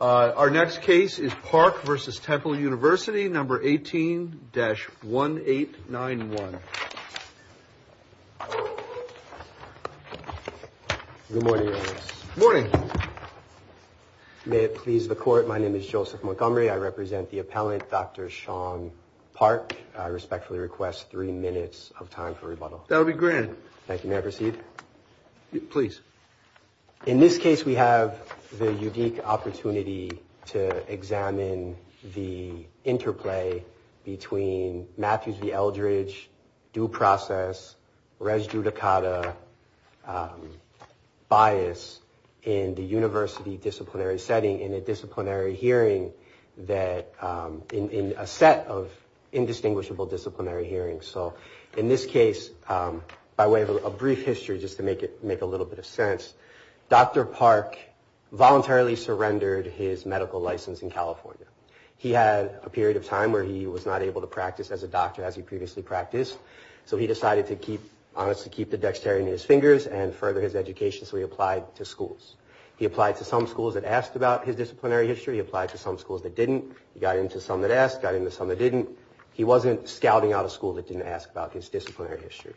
Our next case is Park v. Temple University, number 18-1891. Good morning, Your Honor. Good morning. May it please the Court, my name is Joseph Montgomery. I represent the appellant, Dr. Sean Park. I respectfully request three minutes of time for rebuttal. That will be granted. Thank you. May I proceed? Please. In this case, we have the unique opportunity to examine the interplay between Matthews v. Eldridge, due process, res judicata, bias, in the university disciplinary setting in a disciplinary hearing that in a set of indistinguishable disciplinary hearings. So in this case, by way of a brief history, just to make a little bit of sense, Dr. Park voluntarily surrendered his medical license in California. He had a period of time where he was not able to practice as a doctor as he previously practiced. So he decided to keep the dexterity in his fingers and further his education, so he applied to schools. He applied to some schools that asked about his disciplinary history. He applied to some schools that didn't. He got into some that asked, got into some that didn't. He wasn't scouting out a school that didn't ask about his disciplinary history.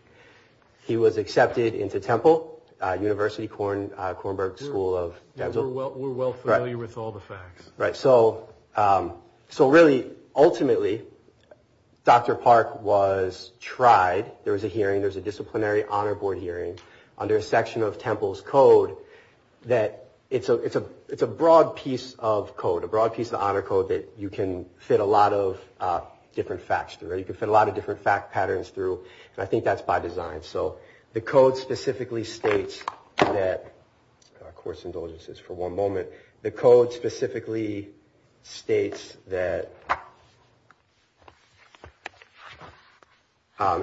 He was accepted into Temple University, Kornberg School of Dental. We're well familiar with all the facts. Right. So really, ultimately, Dr. Park was tried. There was a hearing. There was a disciplinary honor board hearing under a section of Temple's code that it's a broad piece of code, a broad piece of honor code that you can fit a lot of different facts through. You can fit a lot of different fact patterns through, and I think that's by design. So the code specifically states that, of course, indulgences for one moment. The code specifically states that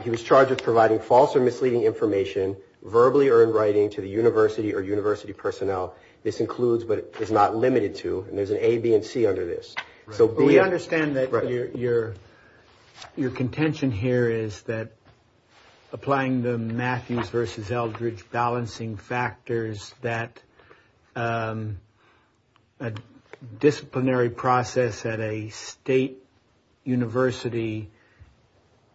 he was charged with providing false or misleading information, verbally or in writing, to the university or university personnel. This includes but is not limited to. And there's an A, B and C under this. So we understand that your your your contention here is that applying the Matthews versus Eldredge balancing factors, that a disciplinary process at a state university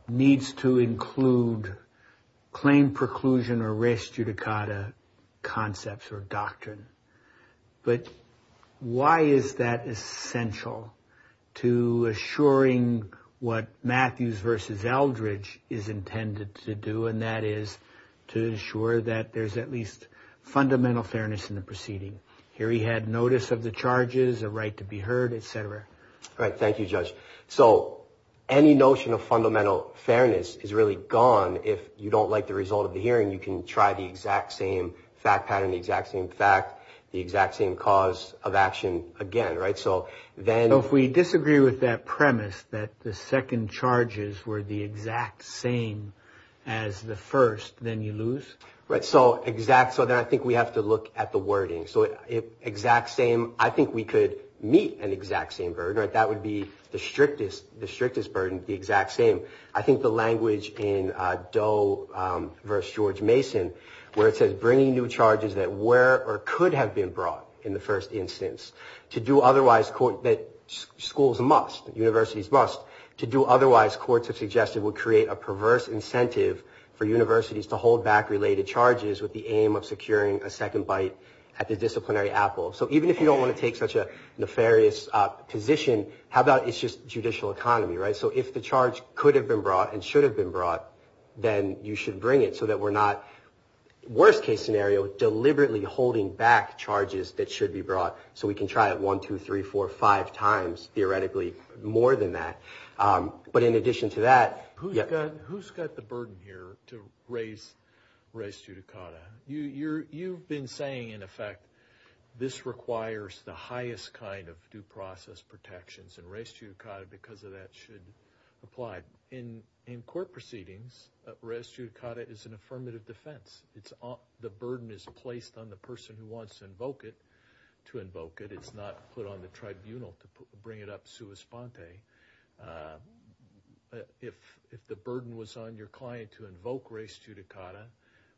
needs to include claim preclusion or race judicata concepts or doctrine. But why is that essential to assuring what Matthews versus Eldredge is intended to do? And that is to ensure that there's at least fundamental fairness in the proceeding. Here he had notice of the charges, a right to be heard, etc. All right. Thank you, Judge. So any notion of fundamental fairness is really gone. If you don't like the result of the hearing, you can try the exact same fact pattern, the exact same fact. The exact same cause of action again. Right. So then if we disagree with that premise that the second charges were the exact same as the first, then you lose. Right. So exact. So then I think we have to look at the wording. So it exact same. I think we could meet an exact same burden. That would be the strictest, the strictest burden, the exact same. I think the language in Doe versus George Mason, where it says bringing new charges that were or could have been brought in the first instance to do otherwise, that schools must, universities must, to do otherwise. Courts have suggested would create a perverse incentive for universities to hold back related charges with the aim of securing a second bite at the disciplinary apple. So even if you don't want to take such a nefarious position, how about it's just judicial economy. Right. So if the charge could have been brought and should have been brought, then you should bring it so that we're not worst case scenario, deliberately holding back charges that should be brought. So we can try it one, two, three, four, five times. Theoretically, more than that. But in addition to that, who's got who's got the burden here to raise race judicata? You've been saying, in effect, this requires the highest kind of due process protections and race judicata because of that should apply in in court proceedings. Rest you caught it is an affirmative defense. It's the burden is placed on the person who wants to invoke it to invoke it. It's not put on the tribunal to bring it up. If if the burden was on your client to invoke race judicata,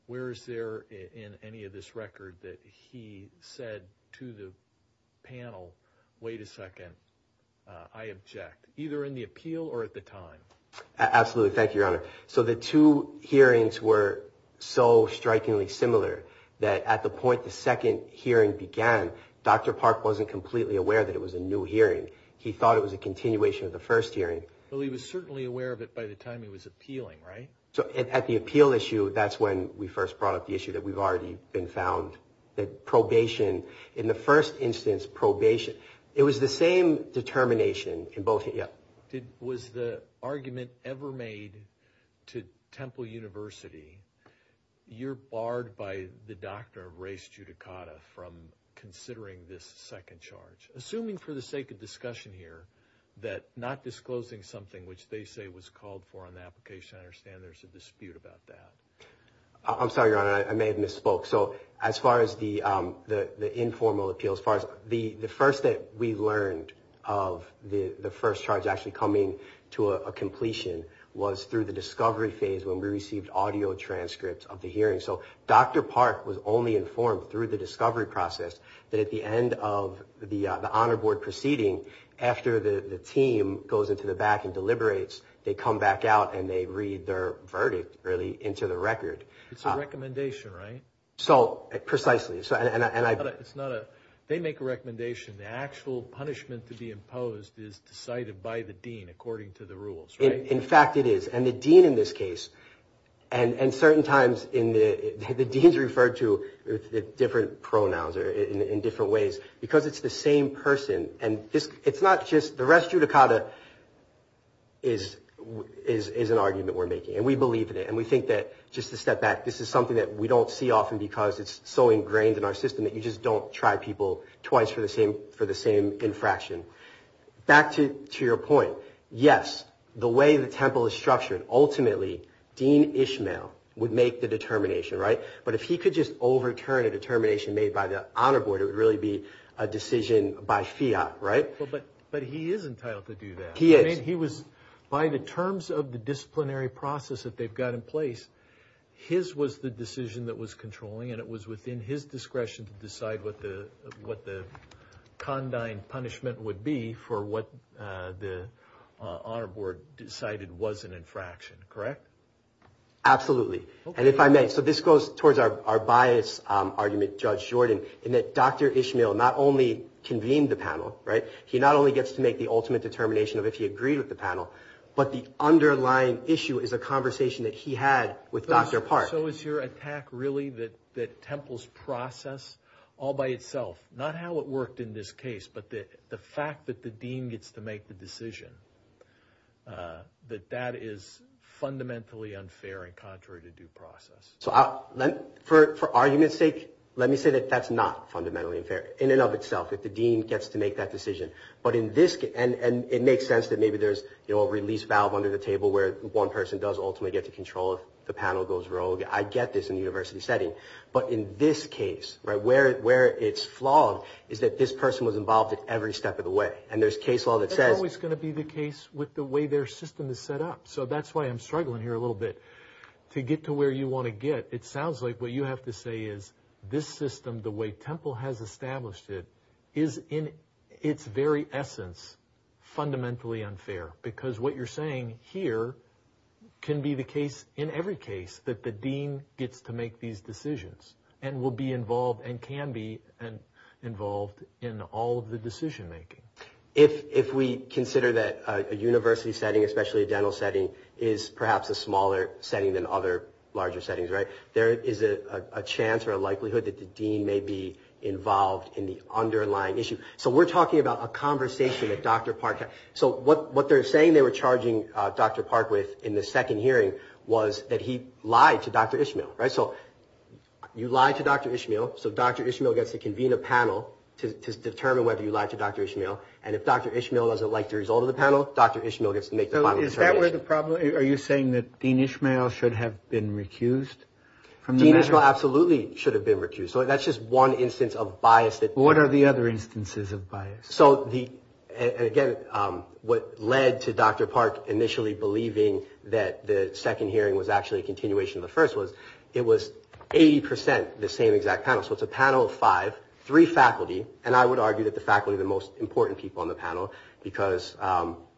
where is there in any of this record that he said to the panel? Wait a second. I object either in the appeal or at the time. Absolutely. Thank you, Your Honor. So the two hearings were so strikingly similar that at the point the second hearing began, Dr. Well, he was certainly aware of it by the time he was appealing. Right. So at the appeal issue, that's when we first brought up the issue that we've already been found that probation in the first instance, probation. It was the same determination in both. Yeah. It was the argument ever made to Temple University. You're barred by the doctor of race judicata from considering this second charge, assuming for the sake of discussion here. That not disclosing something which they say was called for an application. I understand there's a dispute about that. I'm sorry, Your Honor, I may have misspoke. So as far as the the informal appeals, as far as the the first that we learned of the first charge actually coming to a completion, was through the discovery phase when we received audio transcripts of the hearing. So Dr. Park was only informed through the discovery process that at the end of the honor board proceeding, after the team goes into the back and deliberates, they come back out and they read their verdict early into the record. It's a recommendation, right? So precisely. So and I thought it's not a they make a recommendation. The actual punishment to be imposed is decided by the dean, according to the rules. In fact, it is. And the dean in this case and certain times in the deans referred to different pronouns or in different ways because it's the same person. And it's not just the rest judicata. Is is an argument we're making and we believe in it and we think that just to step back, this is something that we don't see often because it's so ingrained in our system that you just don't try people twice for the same for the same infraction. Back to your point. Yes. The way the temple is structured. Ultimately, Dean Ishmael would make the determination. Right. But if he could just overturn a determination made by the honor board, it would really be a decision by Fiat. Right. But but he is entitled to do that. He is. He was by the terms of the disciplinary process that they've got in place. His was the decision that was controlling and it was within his discretion to decide what the what the condign punishment would be for what the honor board decided was an infraction. Correct. Absolutely. And if I may. So this goes towards our bias argument, Judge Jordan, in that Dr. Ishmael not only convened the panel. Right. He not only gets to make the ultimate determination of if he agreed with the panel, but the underlying issue is a conversation that he had with Dr. Park. So is your attack really that that temples process all by itself? Not how it worked in this case, but the fact that the dean gets to make the decision that that is fundamentally unfair and contrary to due process. So for argument's sake, let me say that that's not fundamentally unfair in and of itself. That the dean gets to make that decision. But in this. And it makes sense that maybe there's a release valve under the table where one person does ultimately get to control. The panel goes rogue. I get this in the university setting. But in this case, right where where it's flawed is that this person was involved in every step of the way. And there's case law that says it's going to be the case with the way their system is set up. So that's why I'm struggling here a little bit to get to where you want to get. It sounds like what you have to say is this system, the way Temple has established it, is in its very essence fundamentally unfair. Because what you're saying here can be the case in every case that the dean gets to make these decisions and will be involved and can be involved in all of the decision making. If we consider that a university setting, especially a dental setting, is perhaps a smaller setting than other larger settings. There is a chance or a likelihood that the dean may be involved in the underlying issue. So we're talking about a conversation that Dr. Park had. So what they're saying they were charging Dr. Park with in the second hearing was that he lied to Dr. Ishmael. So you lied to Dr. Ishmael. So Dr. Ishmael gets to convene a panel to determine whether you lied to Dr. Ishmael. And if Dr. Ishmael doesn't like the result of the panel, Dr. Ishmael gets to make the final determination. So is that where the problem is? Are you saying that Dean Ishmael should have been recused? Dean Ishmael absolutely should have been recused. So that's just one instance of bias. What are the other instances of bias? Again, what led to Dr. Park initially believing that the second hearing was actually a continuation of the first was it was 80 percent the same exact panel. So it's a panel of five, three faculty. And I would argue that the faculty are the most important people on the panel because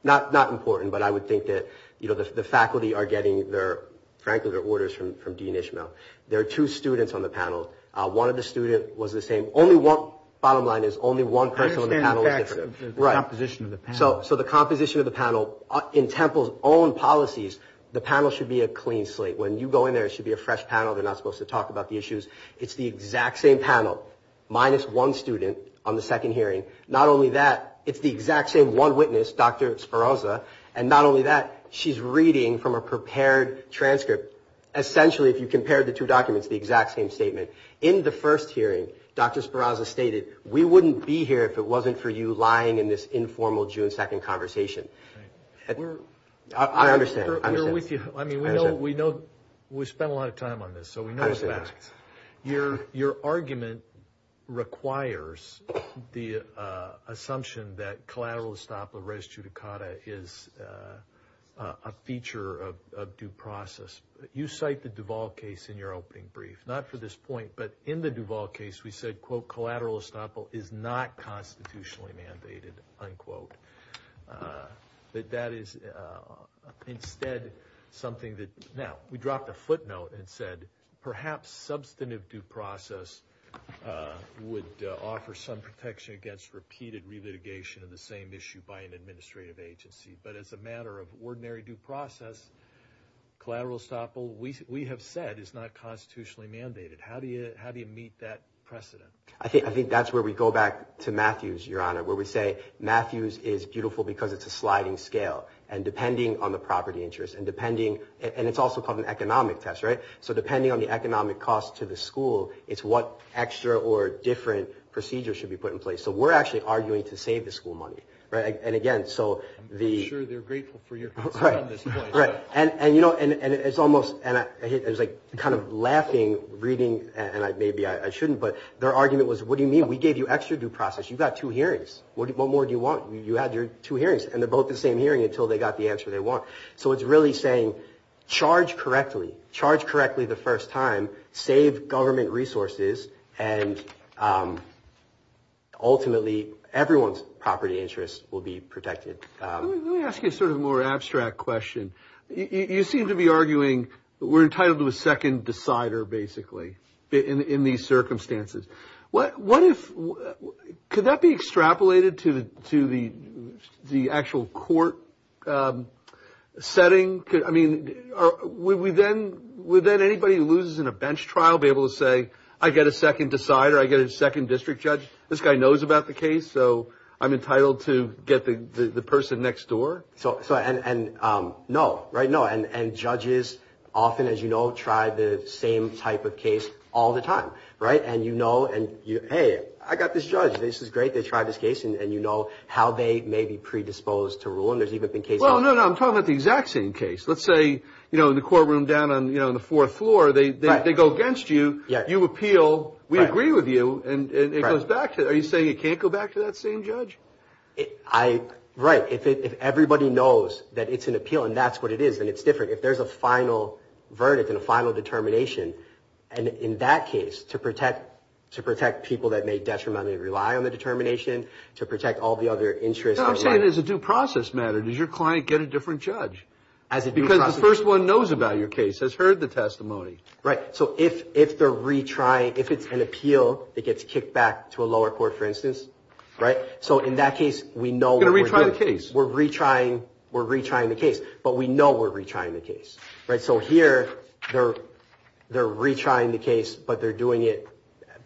not important, but I would think that the faculty are getting their orders from Dean Ishmael. There are two students on the panel. One of the students was the same. Only one, bottom line is only one person on the panel was different. I understand, Patrick, the composition of the panel. So the composition of the panel in Temple's own policies, the panel should be a clean slate. When you go in there, it should be a fresh panel. They're not supposed to talk about the issues. It's the exact same panel minus one student on the second hearing. Not only that, it's the exact same one witness, Dr. Spiroza. And not only that, she's reading from a prepared transcript. Essentially, if you compare the two documents, the exact same statement. In the first hearing, Dr. Spiroza stated, we wouldn't be here if it wasn't for you lying in this informal June 2nd conversation. I understand. We're with you. I mean, we know we spent a lot of time on this, so we know the facts. Your argument requires the assumption that collateral estoppel res judicata is a feature of due process. You cite the Duval case in your opening brief. Not for this point, but in the Duval case, we said, collateral estoppel is not constitutionally mandated, unquote. That that is instead something that, now, we dropped a footnote and said, perhaps substantive due process would offer some protection against repeated relitigation of the same issue by an administrative agency. But as a matter of ordinary due process, collateral estoppel, we have said, is not constitutionally mandated. How do you meet that precedent? I think that's where we go back to Matthews, Your Honor, where we say Matthews is beautiful because it's a sliding scale. And depending on the property interest, and it's also called an economic test, right? So depending on the economic cost to the school, it's what extra or different procedure should be put in place. So we're actually arguing to save the school money. I'm pretty sure they're grateful for your concern at this point. Right. And, you know, it's almost, and it was like kind of laughing, reading, and maybe I shouldn't, but their argument was, what do you mean? We gave you extra due process. You've got two hearings. What more do you want? You had your two hearings, and they're both the same hearing until they got the answer they want. So it's really saying, charge correctly, charge correctly the first time, save government resources, and ultimately everyone's property interest will be protected. Let me ask you a sort of more abstract question. You seem to be arguing we're entitled to a second decider, basically, in these circumstances. What if, could that be extrapolated to the actual court setting? I mean, would then anybody who loses in a bench trial be able to say, I get a second decider, I get a second district judge, this guy knows about the case, so I'm entitled to get the person next door? So, and no, right, no, and judges often, as you know, try the same type of case all the time, right? And you know, hey, I got this judge, this is great, they tried this case, and you know how they may be predisposed to rule, and there's even been cases. Well, no, no, I'm talking about the exact same case. Let's say, you know, in the courtroom down on, you know, the fourth floor, they go against you, you appeal, we agree with you, and it goes back to, are you saying it can't go back to that same judge? I, right, if everybody knows that it's an appeal and that's what it is, then it's different. If there's a final verdict and a final determination, and in that case, to protect people that may detrimentally rely on the determination, to protect all the other interests. I'm saying as a due process matter, does your client get a different judge? As a due process matter. Because the first one knows about your case, has heard the testimony. Right, so if they're retrying, if it's an appeal that gets kicked back to a lower court, for instance, right, so in that case, we know what we're doing. Going to retry the case. We're retrying the case, but we know we're retrying the case, right? So here, they're retrying the case, but they're doing it,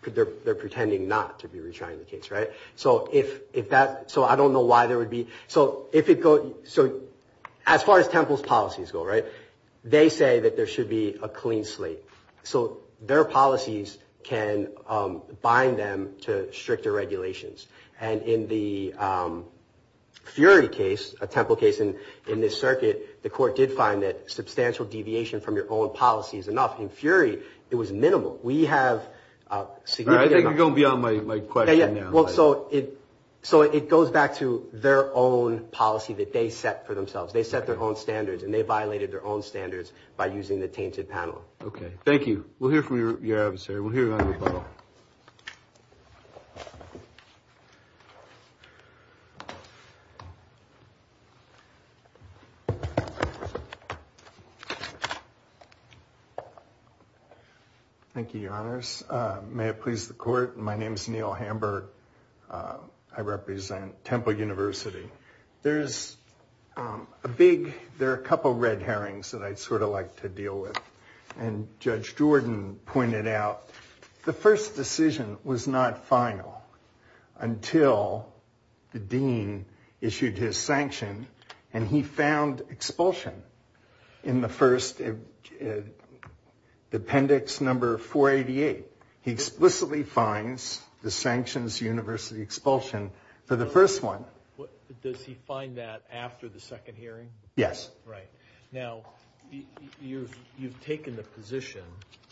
they're pretending not to be retrying the case, right? So if that, so I don't know why there would be, so as far as Temple's policies go, right, they say that there should be a clean slate. So their policies can bind them to stricter regulations. And in the Fury case, a Temple case in this circuit, the court did find that substantial deviation from your own policy is enough. In Fury, it was minimal. I think you're going beyond my question now. So it goes back to their own policy that they set for themselves. They set their own standards, and they violated their own standards by using the tainted panel. Okay, thank you. We'll hear from your adversary. Thank you, your honors. May it please the court. My name is Neil Hamburg. I represent Temple University. There's a big, there are a couple of red herrings that I'd sort of like to deal with. The first decision was not final until the dean issued his sanction, and he found expulsion in the first appendix number 488. He explicitly finds the sanctions university expulsion for the first one. Does he find that after the second hearing? Yes. Right. Now, you've taken the position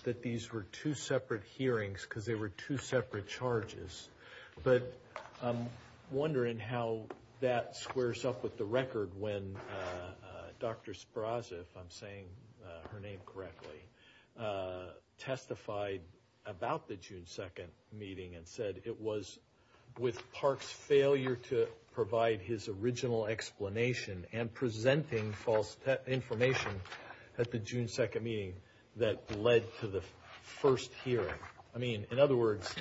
that these were two separate hearings because they were two separate charges, but I'm wondering how that squares up with the record when Dr. Spraza, if I'm saying her name correctly, testified about the June 2nd meeting and said it was with Park's failure to provide his original explanation and presenting false information at the June 2nd meeting that led to the first hearing. I mean, in other words,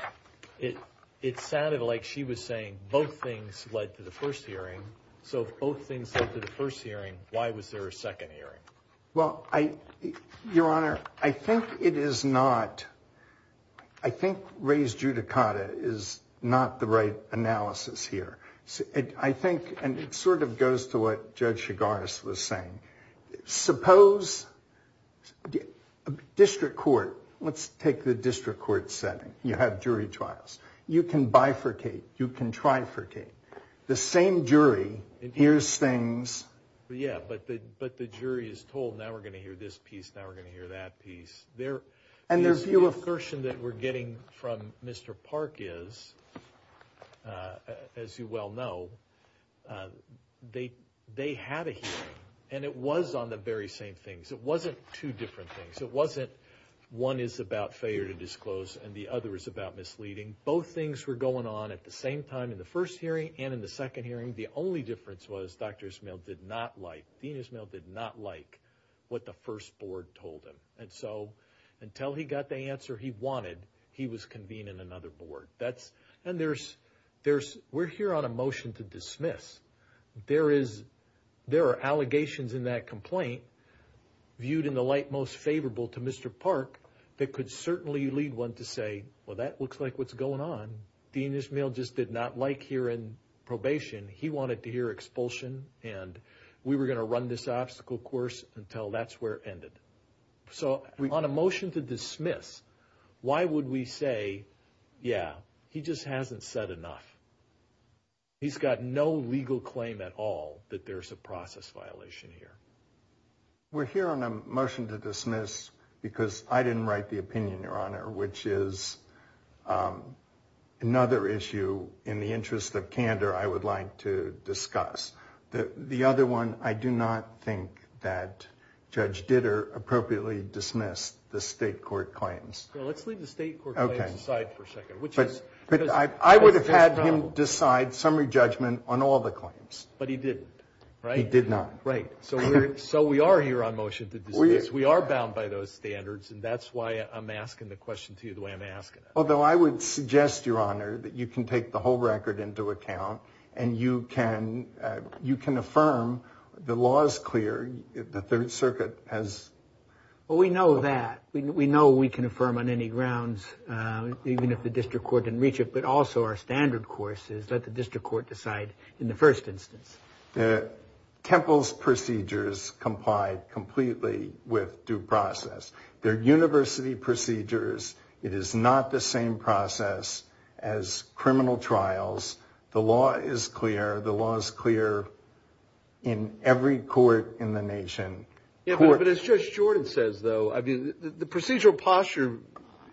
it sounded like she was saying both things led to the first hearing. So if both things led to the first hearing, why was there a second hearing? Well, your honor, I think it is not, I think res judicata is not the right analysis here. I think, and it sort of goes to what Judge Chigaris was saying, suppose a district court, let's take the district court setting, you have jury trials. You can bifurcate, you can trifurcate. The same jury hears things. Yeah, but the jury is told now we're going to hear this piece, now we're going to hear that piece. And their view of caution that we're getting from Mr. Park is, as you well know, they had a hearing and it was on the very same things. It wasn't two different things. It wasn't one is about failure to disclose and the other is about misleading. Both things were going on at the same time in the first hearing and in the second hearing. The only difference was Dr. Ismael did not like, Dean Ismael did not like what the first board told him. And so until he got the answer he wanted, he was convening another board. And there's, we're here on a motion to dismiss. There are allegations in that complaint viewed in the light most favorable to Mr. Park that could certainly lead one to say, well, that looks like what's going on. Dean Ismael just did not like hearing probation. He wanted to hear expulsion and we were going to run this obstacle course until that's where it ended. So on a motion to dismiss, why would we say, yeah, he just hasn't said enough. He's got no legal claim at all that there's a process violation here. We're here on a motion to dismiss because I didn't write the opinion, Your Honor, which is another issue in the interest of candor I would like to discuss. The other one, I do not think that Judge Ditter appropriately dismissed the state court claims. Well, let's leave the state court claims aside for a second. But I would have had him decide summary judgment on all the claims. But he didn't, right? He did not. Right. So we are here on motion to dismiss. We are bound by those standards and that's why I'm asking the question to you the way I'm asking it. Although I would suggest, Your Honor, that you can take the whole record into account and you can affirm the law is clear, the Third Circuit has. Well, we know that. We know we can affirm on any grounds, even if the district court didn't reach it, but also our standard course is let the district court decide in the first instance. Temple's procedures complied completely with due process. They're university procedures. It is not the same process as criminal trials. The law is clear. The law is clear in every court in the nation. But as Judge Jordan says, though, the procedural posture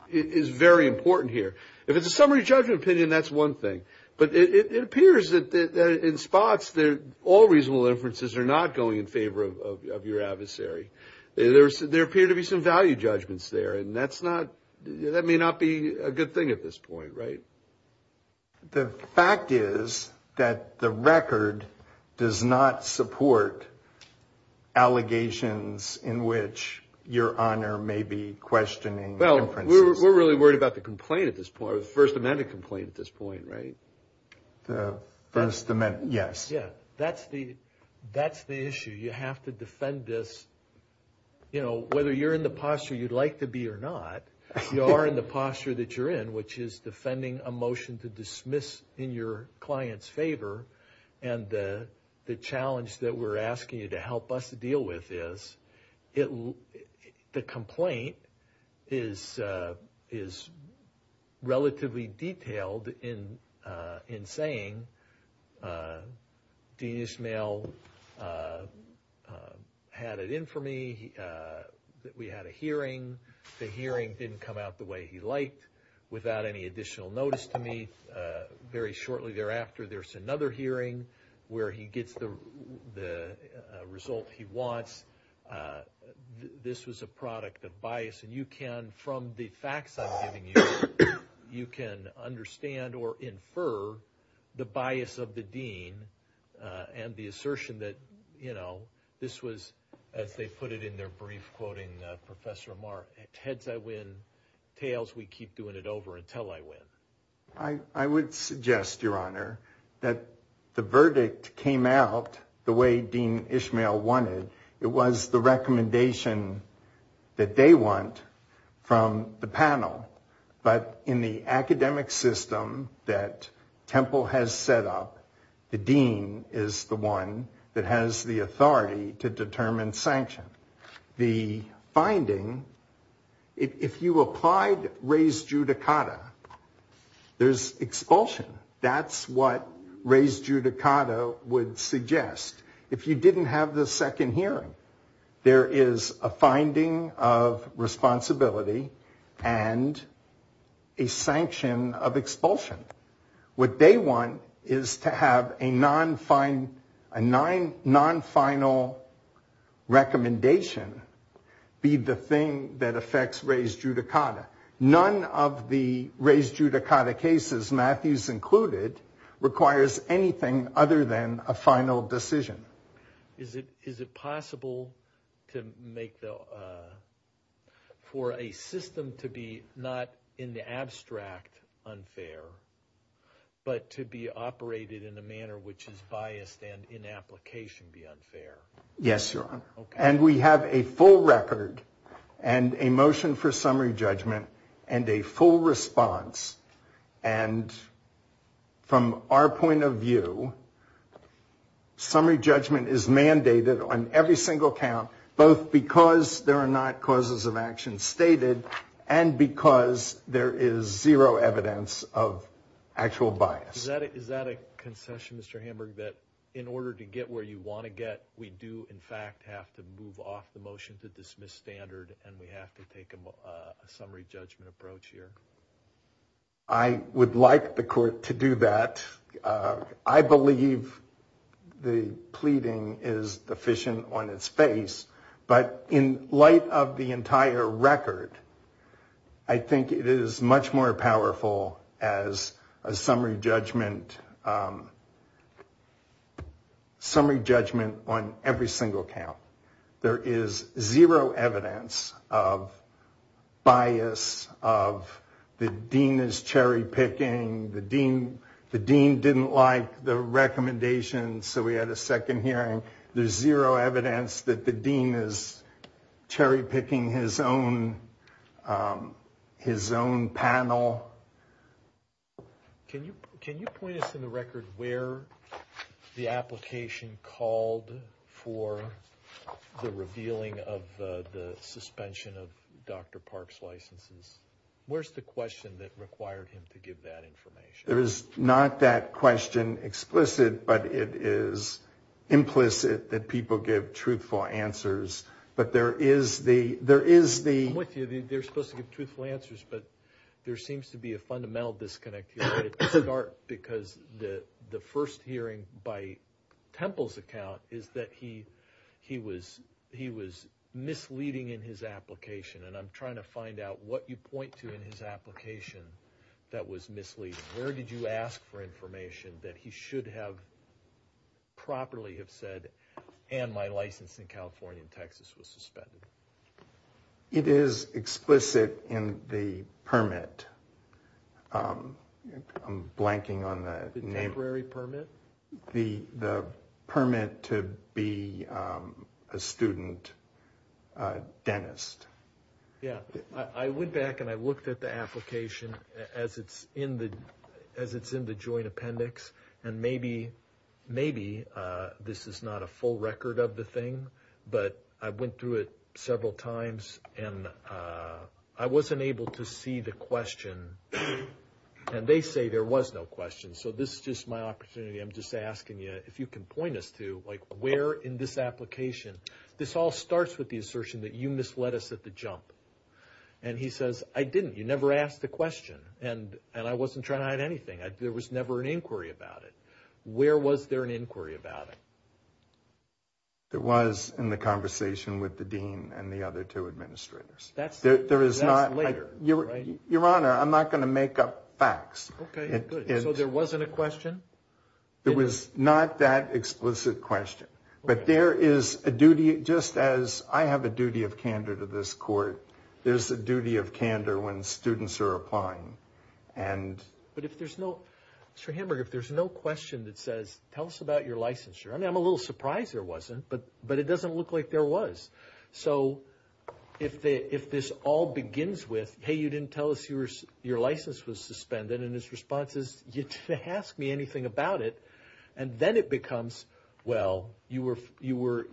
is very important here. If it's a summary judgment opinion, that's one thing. But it appears that in spots all reasonable inferences are not going in favor of your adversary. There appear to be some value judgments there, and that may not be a good thing at this point, right? The fact is that the record does not support allegations in which Your Honor may be questioning inferences. Well, we're really worried about the complaint at this point, the First Amendment complaint at this point, right? The First Amendment, yes. Yeah, that's the issue. You have to defend this. You know, whether you're in the posture you'd like to be or not, you are in the posture that you're in, which is defending a motion to dismiss in your client's favor. And the challenge that we're asking you to help us deal with is the complaint is relatively detailed in saying, Dean Ismail had it in for me that we had a hearing. The hearing didn't come out the way he liked without any additional notice to me. Very shortly thereafter, there's another hearing where he gets the result he wants. This was a product of bias. And you can, from the facts I'm giving you, you can understand or infer the bias of the dean and the assertion that, you know, this was, as they put it in their brief, quoting Professor Mark, heads I win, tails we keep doing it over until I win. I would suggest, Your Honor, that the verdict came out the way Dean Ismail wanted. It was the recommendation that they want from the panel. But in the academic system that Temple has set up, the dean is the one that has the authority to determine sanction. The finding, if you applied res judicata, there's expulsion. That's what res judicata would suggest. If you didn't have the second hearing, there is a finding of responsibility and a sanction of expulsion. What they want is to have a non-final recommendation be the thing that affects res judicata. None of the res judicata cases, Matthews included, requires anything other than a final decision. Is it possible to make the, for a system to be not in the abstract unfair, but to be operated in a manner which is biased and in application be unfair? Yes, Your Honor. And we have a full record and a motion for summary judgment and a full response. And from our point of view, summary judgment is mandated on every single count, both because there are not causes of action stated and because there is zero evidence of actual bias. Is that a concession, Mr. Hamburg, that in order to get where you want to get, we do, in fact, have to move off the motion to dismiss standard and we have to take a summary judgment approach here? I would like the court to do that. I believe the pleading is deficient on its face, but in light of the entire record, I think it is much more powerful as a summary judgment on every single count. There is zero evidence of bias, of the dean is cherry picking, the dean didn't like the recommendation, so we had a second hearing. There's zero evidence that the dean is cherry picking his own panel. Can you point us in the record where the application called for the revealing of the suspension of Dr. Park's licenses? Where's the question that required him to give that information? There is not that question explicit, but it is implicit that people give truthful answers. I'm with you, they're supposed to give truthful answers, but there seems to be a fundamental disconnect here. The first hearing by Temple's account is that he was misleading in his application, and I'm trying to find out what you point to in his application that was misleading. Where did you ask for information that he should have properly have said, and my license in California and Texas was suspended? It is explicit in the permit. I'm blanking on the name. The temporary permit? The permit to be a student dentist. I went back and I looked at the application as it's in the joint appendix, and maybe this is not a full record of the thing, but I went through it several times, and I wasn't able to see the question, and they say there was no question, so this is just my opportunity. I'm just asking you if you can point us to where in this application, this all starts with the assertion that you misled us at the jump, and he says, I didn't. You never asked a question, and I wasn't trying to hide anything. There was never an inquiry about it. Where was there an inquiry about it? There was in the conversation with the dean and the other two administrators. That's later, right? Your Honor, I'm not going to make up facts. Okay, good. So there wasn't a question? It was not that explicit question, but there is a duty, just as I have a duty of candor to this court, there's a duty of candor when students are applying. But if there's no question that says, tell us about your licensure, I'm a little surprised there wasn't, but it doesn't look like there was. So if this all begins with, hey, you didn't tell us your license was suspended, and his response is, you didn't ask me anything about it, and then it becomes, well, you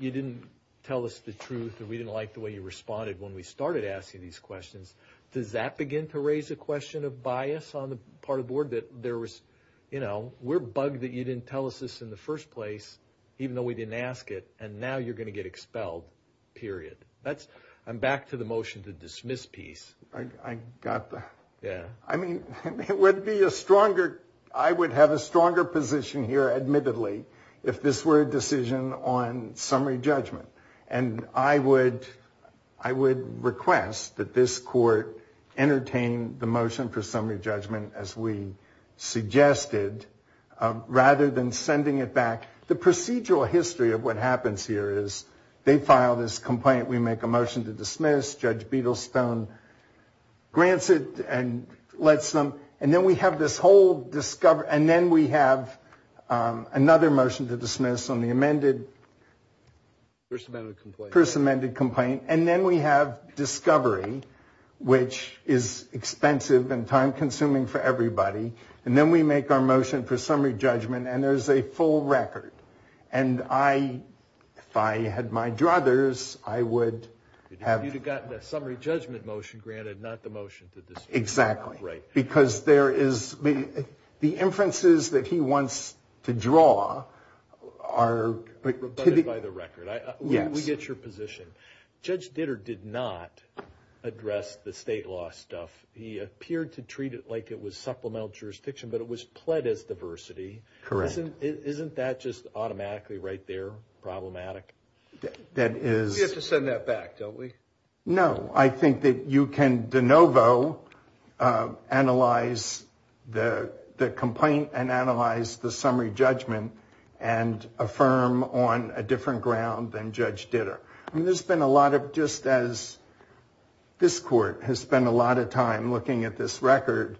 didn't tell us the truth, and we didn't like the way you responded when we started asking these questions. Does that begin to raise a question of bias on the part of the board that there was, you know, we're bugged that you didn't tell us this in the first place, even though we didn't ask it, and now you're going to get expelled, period? I'm back to the motion to dismiss piece. I got that. Yeah. I mean, it would be a stronger, I would have a stronger position here, admittedly, if this were a decision on summary judgment. And I would request that this court entertain the motion for summary judgment as we suggested, rather than sending it back. The procedural history of what happens here is they file this complaint, we make a motion to dismiss, Judge Beadlestone grants it and lets them, and then we have this whole discovery, and then we have another motion to dismiss on the amended. First amended complaint. First amended complaint, and then we have discovery, which is expensive and time-consuming for everybody, and then we make our motion for summary judgment, and there's a full record. And I, if I had my druthers, I would have. You would have gotten a summary judgment motion granted, not the motion to dismiss. Exactly. Right. Because there is, the inferences that he wants to draw are. By the record. Yes. We get your position. Judge Ditter did not address the state law stuff. He appeared to treat it like it was supplemental jurisdiction, but it was pled as diversity. Correct. Isn't that just automatically right there, problematic? That is. We have to send that back, don't we? No. I think that you can de novo analyze the complaint and analyze the summary judgment and affirm on a different ground than Judge Ditter. I mean, there's been a lot of, just as this court has spent a lot of time looking at this record,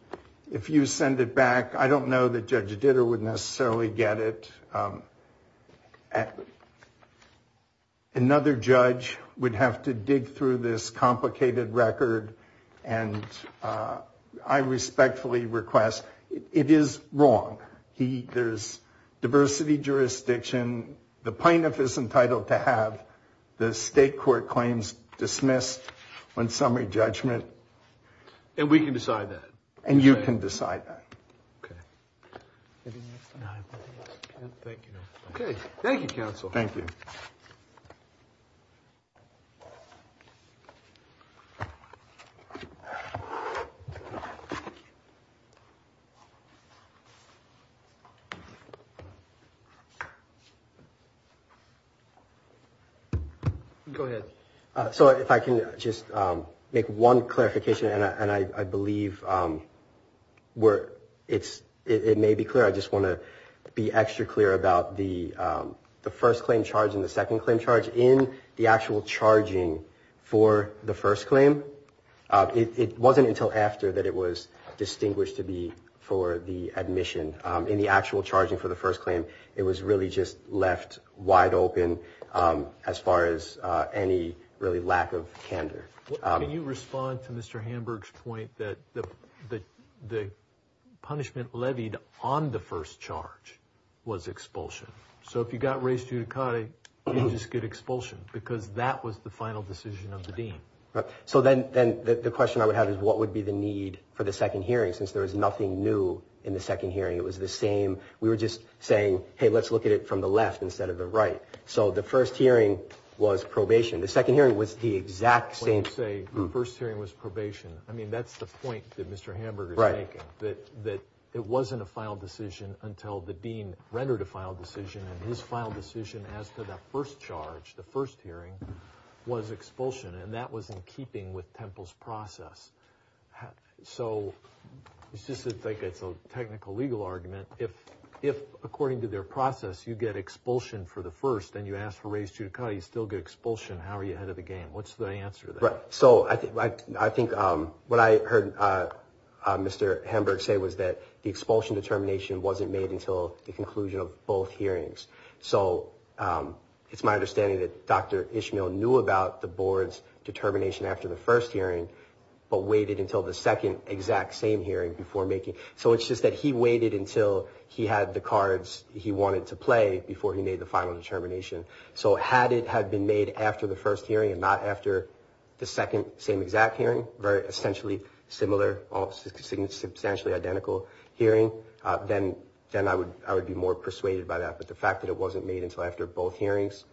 if you send it back, I don't know that Judge Ditter would necessarily get it. Another judge would have to dig through this complicated record. And I respectfully request it is wrong. There's diversity jurisdiction. The plaintiff is entitled to have the state court claims dismissed on summary judgment. And we can decide that. And you can decide that. Okay. Thank you. Thank you, counsel. Thank you. Go ahead. So if I can just make one clarification, and I believe it may be clear. I just want to be extra clear about the first claim charge and the second claim charge. In the actual charging for the first claim, it wasn't until after that it was distinguished to be for the admission. In the actual charging for the first claim, it was really just left wide open as far as any really lack of candor. Can you respond to Mr. Hamburg's point that the punishment levied on the first charge was expulsion? So if you got raised judicata, you just get expulsion because that was the final decision of the dean. So then the question I would have is what would be the need for the second hearing since there was nothing new in the second hearing. It was the same. We were just saying, hey, let's look at it from the left instead of the right. So the first hearing was probation. The second hearing was the exact same. When you say the first hearing was probation, I mean, that's the point that Mr. Hamburg is making. Right. That it wasn't a final decision until the dean rendered a final decision. And his final decision as to the first charge, the first hearing, was expulsion. And that was in keeping with Temple's process. So it's just like it's a technical legal argument. If, according to their process, you get expulsion for the first and you ask for raised judicata, you still get expulsion, how are you ahead of the game? What's the answer to that? Right. So I think what I heard Mr. Hamburg say was that the expulsion determination wasn't made until the conclusion of both hearings. So it's my understanding that Dr. Ishmael knew about the board's determination after the first hearing but waited until the second exact same hearing before making. So it's just that he waited until he had the cards he wanted to play before he made the final determination. So had it had been made after the first hearing and not after the second same exact hearing, very essentially similar, substantially identical hearing, then I would be more persuaded by that. But the fact that it wasn't made until after both hearings.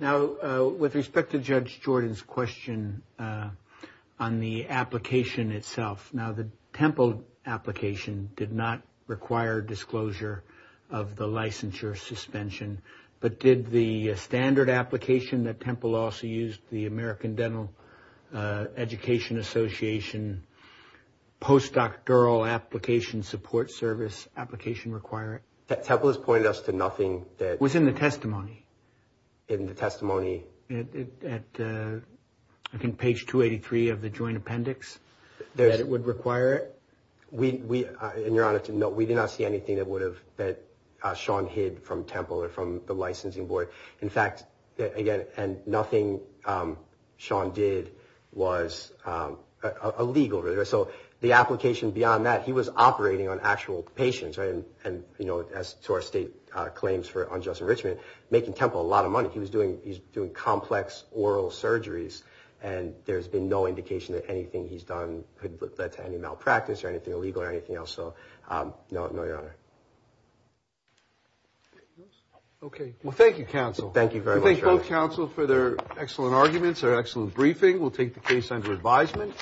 Now, with respect to Judge Jordan's question on the application itself, now the Temple application did not require disclosure of the licensure suspension. But did the standard application that Temple also used, the American Dental Education Association post-doctoral application support service application require it? Temple has pointed us to nothing that... It was in the testimony. In the testimony. At, I think, page 283 of the joint appendix? That it would require it? We, in your honor, we did not see anything that would have, that Sean hid from Temple or from the licensing board. In fact, again, and nothing Sean did was illegal. So the application beyond that, he was operating on actual patients and, you know, as to our state claims for unjust enrichment, making Temple a lot of money. He was doing, he's doing complex oral surgeries, and there's been no indication that anything he's done could have led to any malpractice or anything illegal or anything else. So, no, no, your honor. Okay. Well, thank you, counsel. Thank you very much. We thank both counsel for their excellent arguments, their excellent briefing. We'll take the case under advisement.